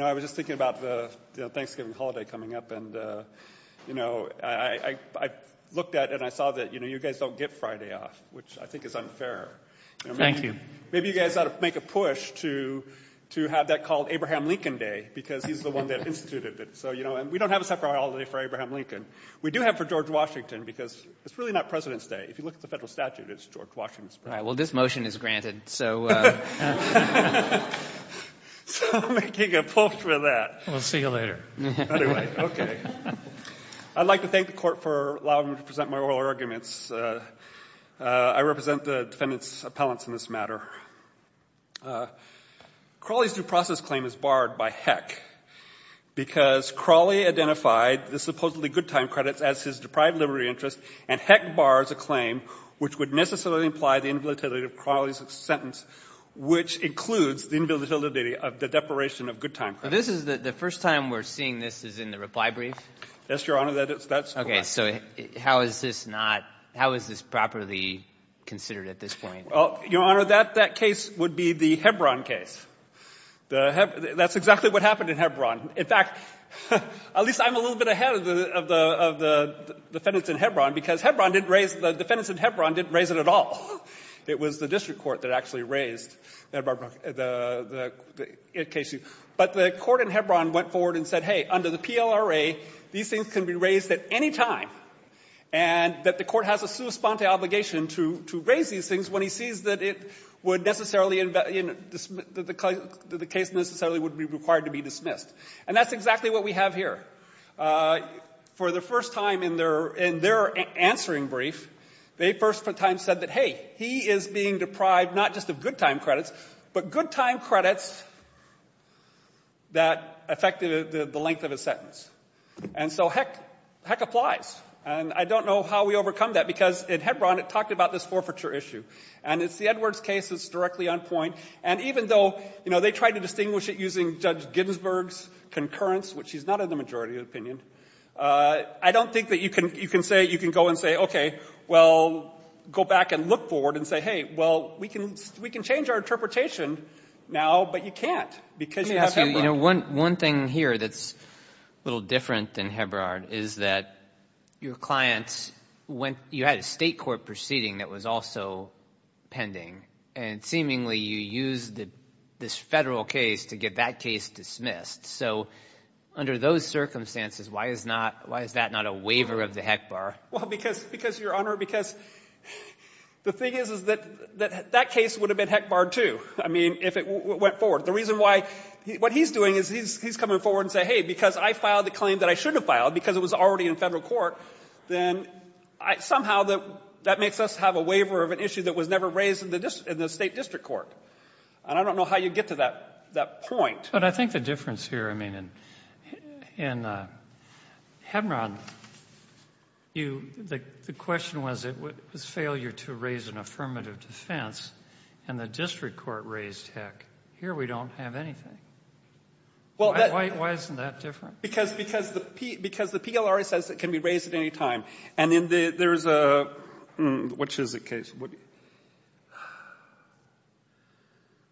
I was just thinking about the Thanksgiving holiday coming up and I looked at it and I saw that you guys don't get Friday off, which I think is unfair. Thank you. Maybe you guys ought to make a push to have that called Abraham Lincoln Day because he's the one that instituted it. We don't have a separate holiday for Abraham Lincoln. We do have for George Washington because it's really not President's Day. If you look at the federal statute, it's George Washington's birthday. All right. Well, this motion is granted, so. So I'm making a push for that. We'll see you later. Anyway, okay. I'd like to thank the Court for allowing me to present my oral arguments. I represent the defendant's appellants in this matter. Crawley's due process claim is barred by Heck because Crawley identified the supposedly good time credits as his deprived liberty interest, and Heck bars a claim which would necessarily imply the invalidity of Crawley's sentence, which includes the invalidity of the deprivation of good time credits. This is the first time we're seeing this is in the reply brief? Yes, Your Honor. That's correct. So how is this not — how is this properly considered at this point? Well, Your Honor, that case would be the Hebron case. That's exactly what happened in Hebron. In fact, at least I'm a little bit ahead of the defendants in Hebron because Hebron didn't raise — the defendants in Hebron didn't raise it at all. It was the district court that actually raised the case. But the court in Hebron went forward and said, hey, under the PLRA, these things can be raised at any time, and that the court has a sua sponte obligation to raise these things when he sees that it would necessarily — that the case necessarily would be required to be dismissed. And that's exactly what we have here. For the first time in their answering brief, they first time said that, hey, he is being deprived not just of good time credits, but good time credits that affect the length of his sentence. And so, heck, heck applies. And I don't know how we overcome that because in Hebron it talked about this forfeiture issue. And it's the Edwards case that's directly on point. And even though, you know, they tried to distinguish it using Judge Ginsburg's concurrence, which she's not in the majority opinion, I don't think that you can say — you can go and say, okay, well, go back and look forward and say, hey, well, we can change our interpretation now, but you can't because you have Hebron. But, you know, one thing here that's a little different than Hebron is that your clients went — you had a state court proceeding that was also pending, and seemingly you used this Federal case to get that case dismissed. So under those circumstances, why is not — why is that not a waiver of the HECBAR? Well, because, Your Honor, because the thing is, is that that case would have been HECBAR-ed, too, I mean, if it went forward. The reason why — what he's doing is he's coming forward and saying, hey, because I filed a claim that I shouldn't have filed because it was already in Federal court, then somehow that makes us have a waiver of an issue that was never raised in the state district court. And I don't know how you get to that point. But I think the difference here, I mean, in Hebron, you — the question was it was failure to raise an affirmative defense, and the district court raised, heck, here we don't have anything. Why isn't that different? Because — because the PLRA says it can be raised at any time. And in the — there's a — which is a case —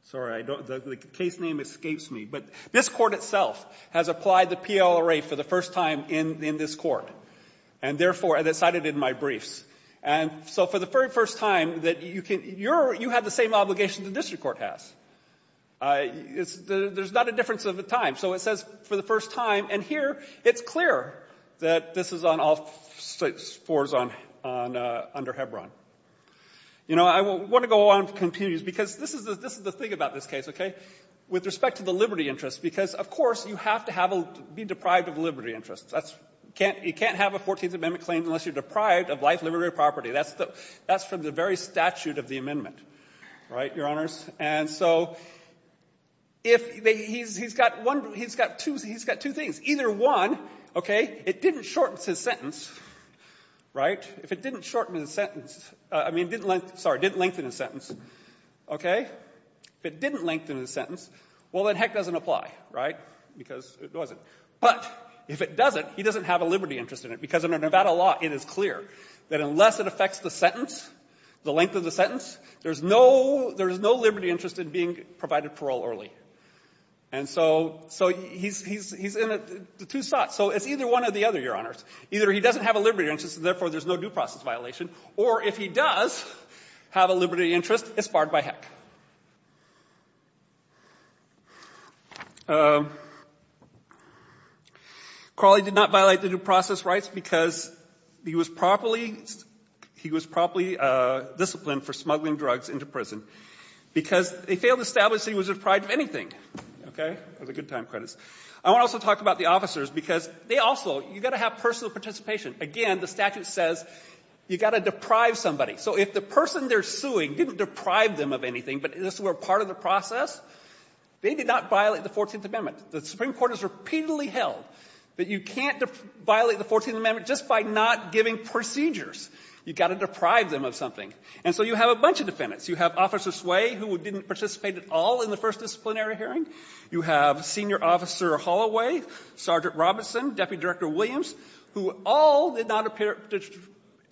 sorry, I don't — the case name escapes me. But this Court itself has applied the PLRA for the first time in this Court, and therefore it's cited in my briefs. And so for the very first time that you can — you're — you have the same obligation the district court has. It's — there's not a difference of a time. So it says for the first time, and here it's clear that this is on all fours on — under Hebron. You know, I want to go on to continue, because this is the — this is the thing about this case, okay, with respect to the liberty interest, because, of course, you have to have a — be deprived of liberty interests. That's — you can't — you can't have a 14th Amendment claim unless you're deprived of life, liberty, or property. That's the — that's from the very statute of the amendment. Right, Your Honors? And so if — he's got one — he's got two — he's got two things. Either one, okay, it didn't shorten his sentence, right? If it didn't shorten his sentence — I mean, didn't lengthen — sorry, didn't lengthen his sentence, okay? If it didn't lengthen his sentence, well, then heck doesn't apply, right? Because it wasn't. But if it doesn't, he doesn't have a liberty interest in it. Because under Nevada law, it is clear that unless it affects the sentence, the length of the sentence, there's no — there's no liberty interest in being provided parole early. And so — so he's — he's — he's in two spots. So it's either one or the other, Your Honors. Either he doesn't have a liberty interest, and therefore there's no due process violation, or if he does have a liberty interest, it's barred by heck. Crowley did not violate the due process rights because he was properly — he was properly disciplined for smuggling drugs into prison. Because they failed to establish that he was deprived of anything, okay? Those are good time credits. I want to also talk about the officers, because they also — you've got to have personal participation. Again, the statute says you've got to deprive somebody. So if the person they're suing didn't deprive them of anything, but this were part of the process, they did not violate the 14th Amendment. The Supreme Court has repeatedly held that you can't violate the 14th Amendment just by not giving procedures. You've got to deprive them of something. And so you have a bunch of defendants. You have Officer Sway, who didn't participate at all in the first disciplinary hearing. You have Senior Officer Holloway, Sergeant Robinson, Deputy Director Williams, who all did not appear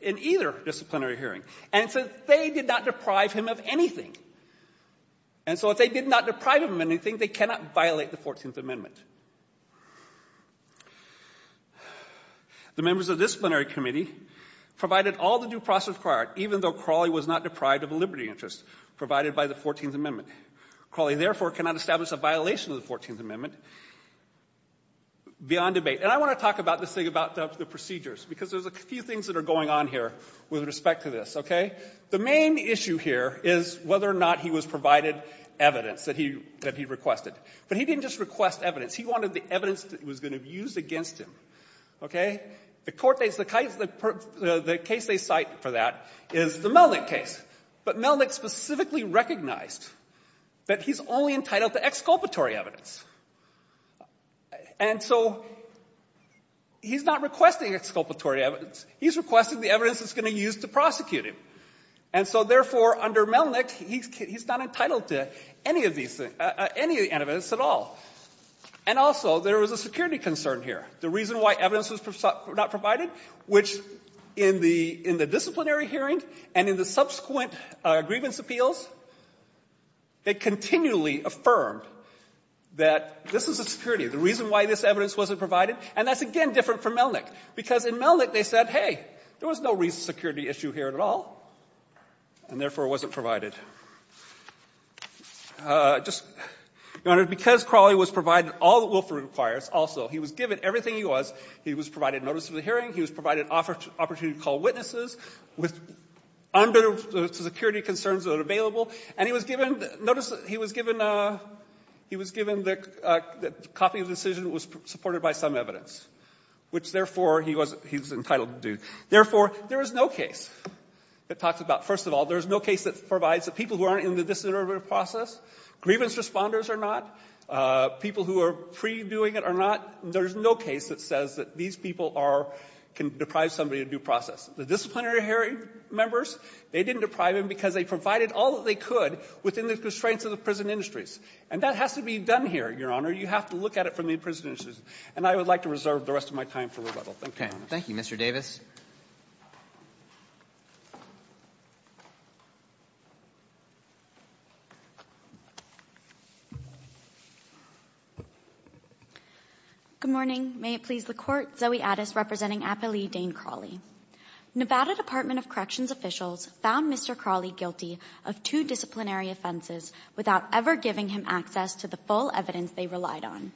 in either disciplinary hearing. And so they did not deprive him of anything. And so if they did not deprive him of anything, they cannot violate the 14th Amendment. The members of the disciplinary committee provided all the due process required, even though Crowley was not deprived of a liberty interest provided by the 14th Amendment. Crowley, therefore, cannot establish a violation of the 14th Amendment beyond debate. And I want to talk about this thing about the procedures, because there's a few things that are going on here with respect to this, okay? The main issue here is whether or not he was provided evidence that he requested. But he didn't just request evidence. He wanted the evidence that was going to be used against him, okay? The case they cite for that is the Melnick case. But Melnick specifically recognized that he's only entitled to exculpatory evidence. And so he's not requesting exculpatory evidence. He's requesting the evidence that's going to be used to prosecute him. And so, therefore, under Melnick, he's not entitled to any of these things, any evidence at all. And also there was a security concern here. The reason why evidence was not provided, which in the disciplinary hearing and in the subsequent grievance appeals, they continually affirmed that this is a security. The reason why this evidence wasn't provided, and that's, again, different from Melnick, because in Melnick they said, hey, there was no security issue here at all, and therefore it wasn't provided. Just, Your Honor, because Crawley was provided all that Wilford requires also, he was given everything he was. He was provided notice of the hearing. He was provided an opportunity to call witnesses under the security concerns that are available. And he was given notice that he was given the copy of the decision that was supported by some evidence, which, therefore, he was entitled to do. Therefore, there is no case that talks about, first of all, there is no case that provides that people who aren't in the disinterrogative process, grievance responders are not, people who are pre-doing it are not. There is no case that says that these people are, can deprive somebody of due process. The disciplinary hearing members, they didn't deprive him because they provided all that they could within the constraints of the prison industries. And that has to be done here, Your Honor. You have to look at it from the prison industries. And I would like to reserve the rest of my time for rebuttal. Thank you, Your Honor. Thank you, Mr. Davis. Good morning. May it please the Court. Zoe Addis representing Apolli Dane Crawley. Nevada Department of Corrections officials found Mr. Crawley guilty of two disciplinary offenses without ever giving him access to the full evidence they relied on.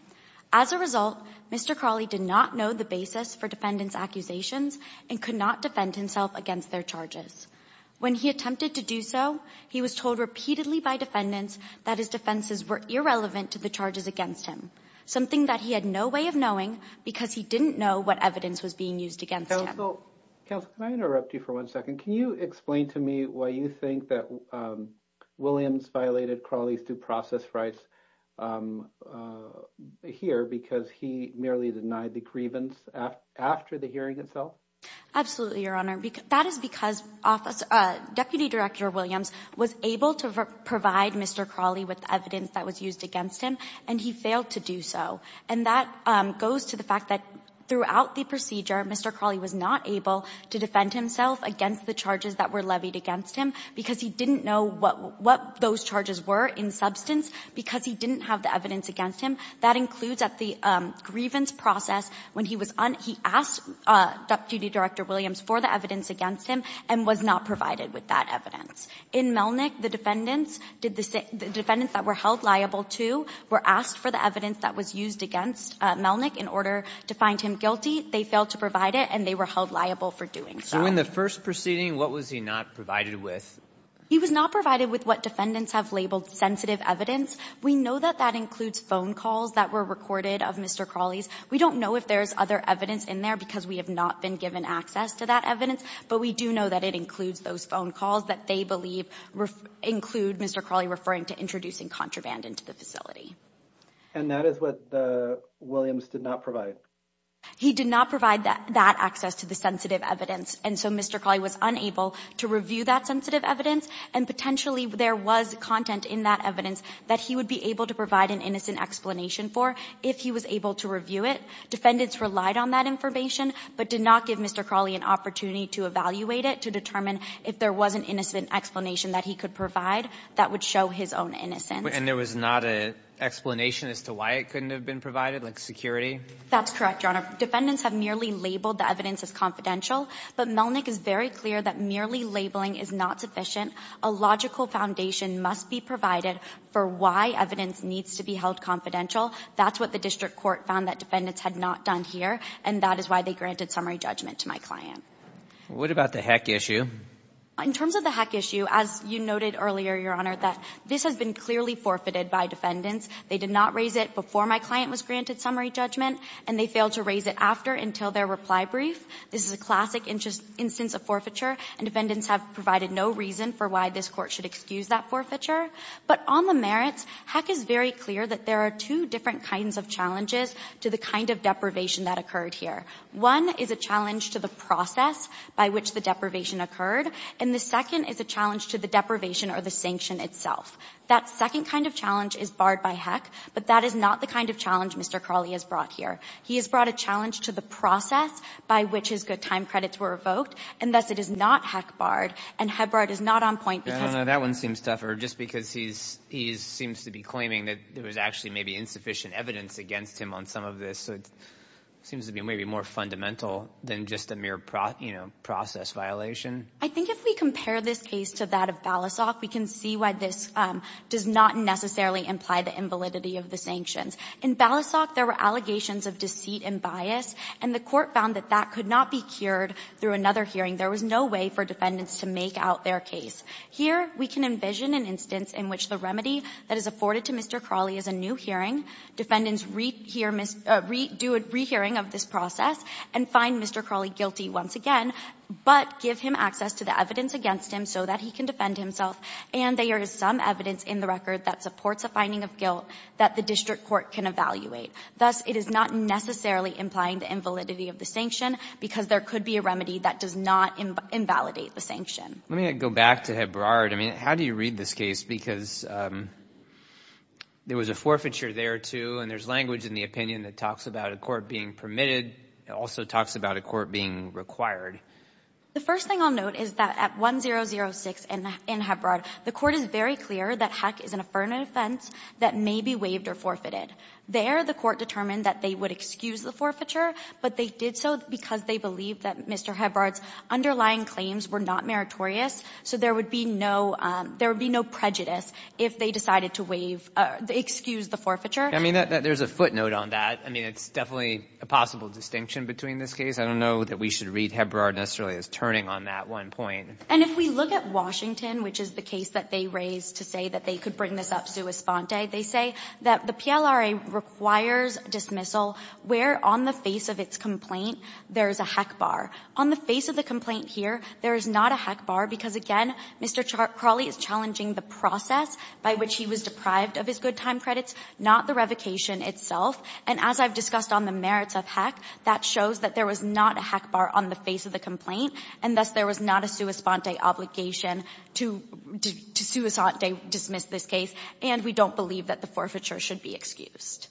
As a result, Mr. Crawley did not know the basis for defendant's accusations and could not defend himself against their charges. When he attempted to do so, he was told repeatedly by defendants that his defenses were irrelevant to the charges against him, something that he had no way of knowing because he didn't know what evidence was being used against him. Counsel, counsel, can I interrupt you for one second? Can you explain to me why you think that Williams violated Crawley's due process rights here because he merely denied the grievance after the hearing itself? Absolutely, Your Honor, that is because Deputy Director Williams was able to provide Mr. Crawley with evidence that was used against him, and he failed to do so. And that goes to the fact that throughout the procedure, Mr. Crawley was not able to defend himself against the charges that were levied against him because he didn't know what those charges were in substance because he didn't have the evidence against him. That includes that the grievance process, when he was on, he asked Deputy Director Williams for the evidence against him and was not provided with that evidence. In Melnick, the defendants that were held liable to were asked for the evidence that was used against Melnick in order to find him guilty. They failed to provide it, and they were held liable for doing so. So in the first proceeding, what was he not provided with? He was not provided with what defendants have labeled sensitive evidence. We know that that includes phone calls that were recorded of Mr. Crawley's. We don't know if there's other evidence in there because we have not been given access to that evidence, but we do know that it includes those phone calls that they believe include Mr. Crawley referring to introducing contraband into the facility. And that is what the Williams did not provide? He did not provide that access to the sensitive evidence. And so Mr. Crawley was unable to review that sensitive evidence, and potentially there was content in that evidence that he would be able to provide an innocent explanation for if he was able to review it. Defendants relied on that information but did not give Mr. Crawley an opportunity to evaluate it to determine if there was an innocent explanation that he could provide that would show his own innocence. And there was not an explanation as to why it couldn't have been provided, like security? That's correct, Your Honor. Defendants have merely labeled the evidence as confidential. But Melnick is very clear that merely labeling is not sufficient. A logical foundation must be provided for why evidence needs to be held confidential. That's what the district court found that defendants had not done here, and that is why they granted summary judgment to my client. What about the heck issue? In terms of the heck issue, as you noted earlier, Your Honor, that this has been clearly forfeited by defendants. They did not raise it before my client was granted summary judgment, and they failed to raise it after until their reply brief. This is a classic instance of forfeiture, and defendants have provided no reason for why this Court should excuse that forfeiture. But on the merits, heck is very clear that there are two different kinds of challenges to the kind of deprivation that occurred here. One is a challenge to the process by which the deprivation occurred, and the second is a challenge to the deprivation or the sanction itself. That second kind of challenge is barred by heck, but that is not the kind of challenge Mr. Crawley has brought here. He has brought a challenge to the process by which his good time credits were revoked, and thus it is not heck-barred, and heck-barred is not on point because— That one seems tougher, just because he seems to be claiming that there was actually maybe insufficient evidence against him on some of this. So it seems to be maybe more fundamental than just a mere process violation. I think if we compare this case to that of Balisok, we can see why this does not necessarily imply the invalidity of the sanctions. In Balisok, there were allegations of deceit and bias, and the Court found that that could not be cured through another hearing. There was no way for defendants to make out their case. Here, we can envision an instance in which the remedy that is afforded to Mr. Crawley is a new hearing, defendants do a rehearing of this process and find Mr. Crawley guilty once again, but give him access to the evidence against him so that he can defend himself, and there is some evidence in the record that supports a finding of guilt that the district court can evaluate. Thus, it is not necessarily implying the invalidity of the sanction because there could be a remedy that does not invalidate the sanction. Let me go back to Hebrard. I mean, how do you read this case? Because there was a forfeiture there, too, and there's language in the opinion that talks about a court being permitted. It also talks about a court being required. The first thing I'll note is that at 1006 in Hebrard, the Court is very clear that a heck is an affirmative offense that may be waived or forfeited. There, the Court determined that they would excuse the forfeiture, but they did so because they believed that Mr. Hebrard's underlying claims were not meritorious, so there would be no prejudice if they decided to waive or excuse the forfeiture. I mean, there's a footnote on that. I mean, it's definitely a possible distinction between this case. I don't know that we should read Hebrard necessarily as turning on that one point. And if we look at Washington, which is the case that they raised to say that they could bring this up sua sponte, they say that the PLRA requires dismissal where on the face of its complaint there is a heck bar. On the face of the complaint here, there is not a heck bar because, again, Mr. Crawley is challenging the process by which he was deprived of his good time credits, not the revocation itself. And as I've discussed on the merits of heck, that shows that there was not a heck bar on the face of the complaint, and thus there was not a sua sponte obligation to sua sponte dismiss this case, and we don't believe that the forfeiture should be excused.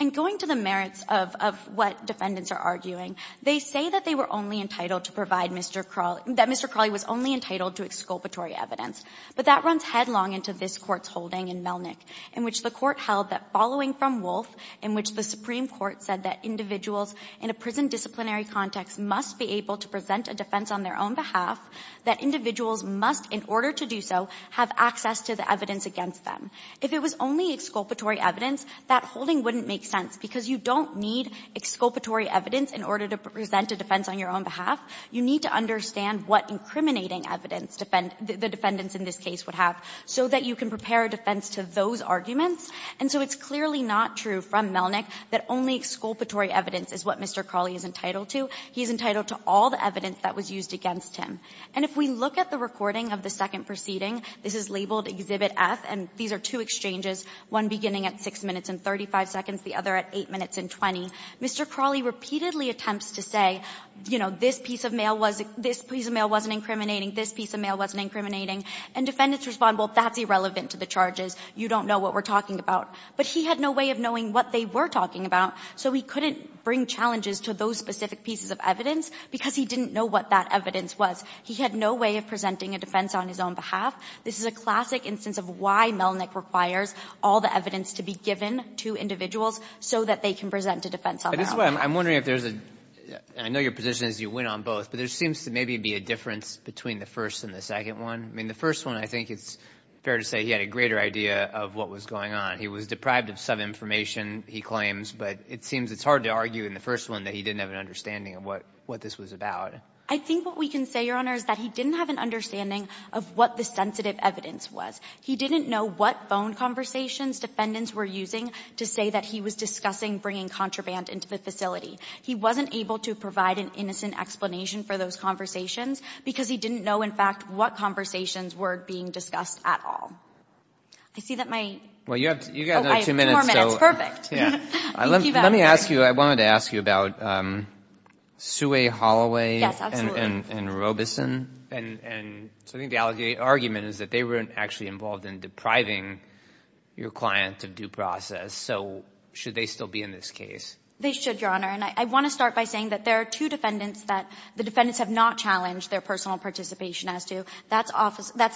And going to the merits of what defendants are arguing, they say that they were only entitled to provide Mr. Crawley — that Mr. Crawley was only entitled to exculpatory evidence. But that runs headlong into this Court's holding in Melnick, in which the Court held that following from Wolfe, in which the Supreme Court said that individuals in a prison disciplinary context must be able to present a defense on their own behalf, that individuals must, in order to do so, have access to the evidence against them. If it was only exculpatory evidence, that holding wouldn't make sense because you don't need exculpatory evidence in order to present a defense on your own behalf. You need to understand what incriminating evidence the defendants in this case would have so that you can prepare a defense to those arguments. And so it's clearly not true from Melnick that only exculpatory evidence is what Mr. Crawley is entitled to. He is entitled to all the evidence that was used against him. And if we look at the recording of the second proceeding, this is labeled Exhibit F, and these are two exchanges, one beginning at 6 minutes and 35 seconds, the other at 8 minutes and 20. Mr. Crawley repeatedly attempts to say, you know, this piece of mail wasn't — this piece of mail wasn't incriminating, this piece of mail wasn't incriminating, and defendants respond, well, that's irrelevant to the charges. You don't know what we're talking about. But he had no way of knowing what they were talking about, so he couldn't bring challenges to those specific pieces of evidence because he didn't know what that evidence was. He had no way of presenting a defense on his own behalf. This is a classic instance of why Melnick requires all the evidence to be given to individuals so that they can present a defense on their own. But this is why I'm wondering if there's a — and I know your position is you win on both, but there seems to maybe be a difference between the first and the second one. I mean, the first one, I think it's fair to say he had a greater idea of what was going on. He was deprived of some information, he claims, but it seems it's hard to argue in the first one that he didn't have an understanding of what this was about. I think what we can say, Your Honor, is that he didn't have an understanding of what the sensitive evidence was. He didn't know what phone conversations defendants were using to say that he was discussing bringing contraband into the facility. He wasn't able to provide an innocent explanation for those conversations because he didn't know, in fact, what conversations were being discussed at all. I see that my — Well, you have another two minutes. Oh, I have four minutes. Perfect. Yeah. Let me ask you. I wanted to ask you about Suey Holloway and Robeson, and so I think the argument is that they were actually involved in depriving your client of due process. So should they still be in this case? They should, Your Honor. And I want to start by saying that there are two defendants that the defendants have not challenged their personal participation as to. That's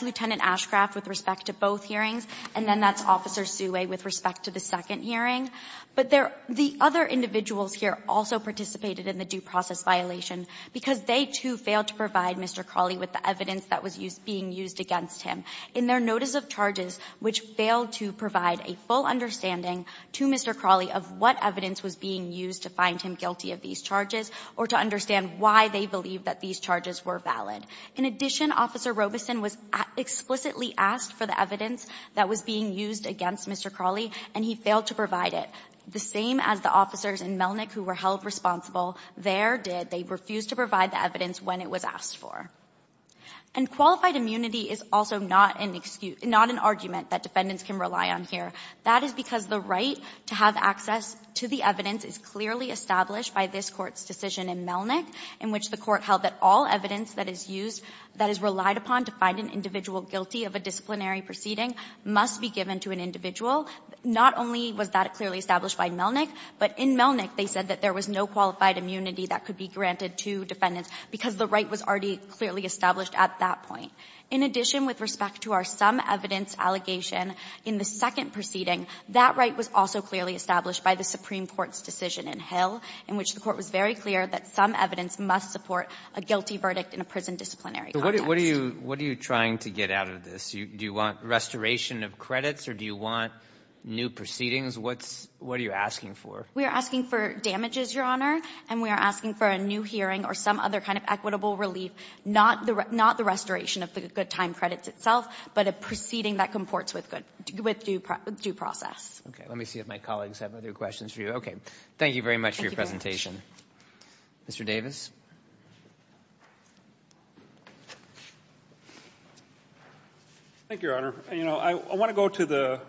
Lieutenant Ashcraft with respect to both hearings, and then that's Officer Suey with respect to the second hearing. But the other individuals here also participated in the due process violation because they, too, failed to provide Mr. Crawley with the evidence that was being used against him. In their notice of charges, which failed to provide a full understanding to Mr. Crawley of what evidence was being used to find him guilty of these charges or to understand why they believed that these charges were valid. In addition, Officer Robeson was explicitly asked for the evidence that was being used against Mr. Crawley, and he failed to provide it, the same as the officers in Melnick who were held responsible there did. They refused to provide the evidence when it was asked for. And qualified immunity is also not an argument that defendants can rely on here. That is because the right to have access to the evidence is clearly established by this Court's decision in Melnick, in which the Court held that all evidence that is used that is relied upon to find an individual guilty of a disciplinary proceeding must be given to an individual. Not only was that clearly established by Melnick, but in Melnick they said that there was no qualified immunity that could be granted to defendants because the right was already clearly established at that point. In addition, with respect to our sum evidence allegation in the second proceeding, that right was also clearly established by the Supreme Court's decision in Hill, in which the Court was very clear that some evidence must support a guilty verdict in a prison disciplinary context. What are you trying to get out of this? Do you want restoration of credits or do you want new proceedings? What are you asking for? We are asking for damages, Your Honor, and we are asking for a new hearing or some other kind of equitable relief, not the restoration of the good time credits itself, but a proceeding that comports with due process. Okay. Let me see if my colleagues have other questions for you. Okay. Thank you very much for your presentation. Mr. Davis. Thank you, Your Honor. You know, I want to go to the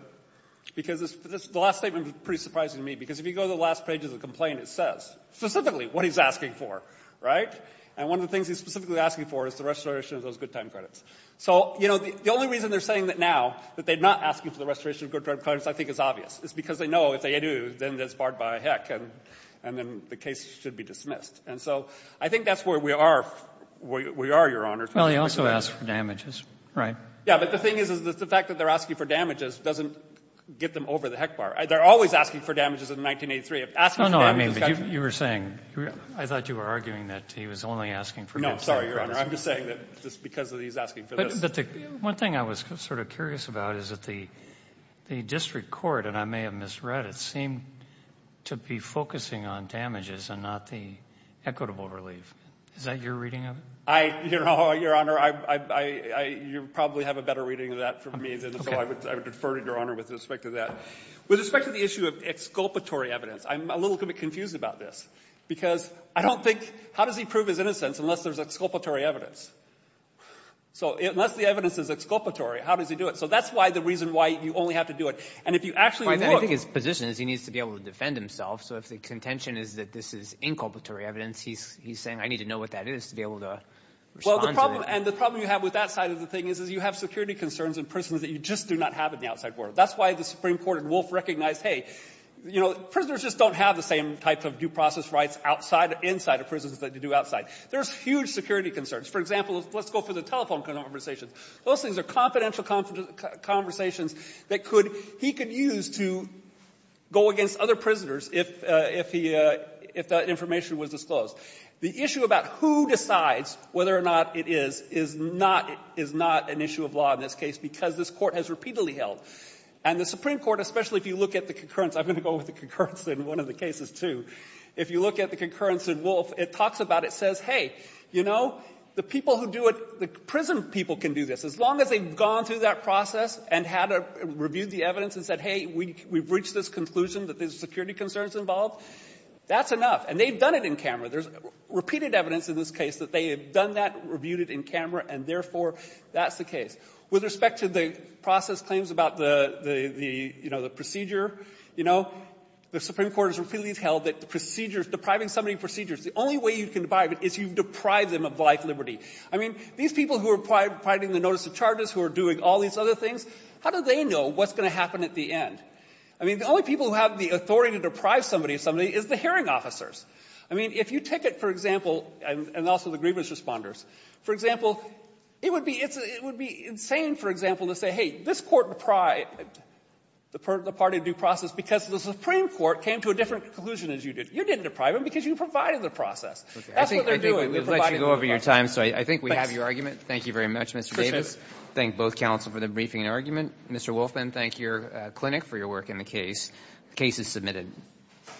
‑‑ because the last statement was pretty surprising to me, because if you go to the last page of the complaint, it says specifically what he's asking for, right? And one of the things he's specifically asking for is the restoration of those good time credits. So, you know, the only reason they're saying that now, that they're not asking for the restoration of good time credits, I think is obvious. It's because they know if they do, then it's barred by a heck, and then the case should be dismissed. And so, I think that's where we are, Your Honor. Well, he also asked for damages, right? Yeah, but the thing is, is the fact that they're asking for damages doesn't get them over the heck bar. They're always asking for damages in 1983. If asking for damages ‑‑ No, no, I mean, but you were saying ‑‑ I thought you were arguing that he was only asking for good time credits. No, sorry, Your Honor. I'm just saying that just because he's asking for this ‑‑ But the one thing I was sort of curious about is that the district court, and I'm sure I may have misread it, seemed to be focusing on damages and not the equitable relief. Is that your reading of it? I ‑‑ Your Honor, I ‑‑ You probably have a better reading of that from me, so I would defer to Your Honor with respect to that. With respect to the issue of exculpatory evidence, I'm a little bit confused about this, because I don't think ‑‑ How does he prove his innocence unless there's exculpatory evidence? So, unless the evidence is exculpatory, how does he do it? So, that's why the reason why you only have to do it. And if you actually look ‑‑ I think his position is he needs to be able to defend himself, so if the contention is that this is inculpatory evidence, he's saying, I need to know what that is to be able to respond to it. And the problem you have with that side of the thing is you have security concerns in prisons that you just do not have in the outside world. That's why the Supreme Court in Wolf recognized, hey, you know, prisoners just don't have the same type of due process rights outside or inside of prisons that you do outside. There's huge security concerns. For example, let's go for the telephone conversations. Those things are confidential conversations that he could use to go against other prisoners if that information was disclosed. The issue about who decides whether or not it is, is not an issue of law in this case, because this Court has repeatedly held. And the Supreme Court, especially if you look at the concurrence ‑‑ I'm going to go with the concurrence in one of the cases, too. If you look at the concurrence in Wolf, it talks about it, it says, hey, you know, the people who do it, the prison people can do this. As long as they've gone through that process and had to review the evidence and said, hey, we've reached this conclusion that there's security concerns involved, that's enough. And they've done it in camera. There's repeated evidence in this case that they have done that, reviewed it in camera, and therefore, that's the case. With respect to the process claims about the, you know, the procedure, you know, the Supreme Court has repeatedly held that the procedures, depriving somebody of liberty, the only way you can deprive it is you deprive them of life liberty. I mean, these people who are providing the notice of charges, who are doing all these other things, how do they know what's going to happen at the end? I mean, the only people who have the authority to deprive somebody of liberty is the hearing officers. I mean, if you take it, for example, and also the grievance responders, for example, it would be ‑‑ it would be insane, for example, to say, hey, this Court deprived the party of due process because the Supreme Court came to a different conclusion as you did. You didn't deprive them because you provided the process. That's what they're doing. They provided the process. I think we have your argument. Thank you very much, Mr. Davis. Appreciate it. Thank both counsel for the briefing and argument. Mr. Wolfman, thank your clinic for your work in the case. The case is submitted.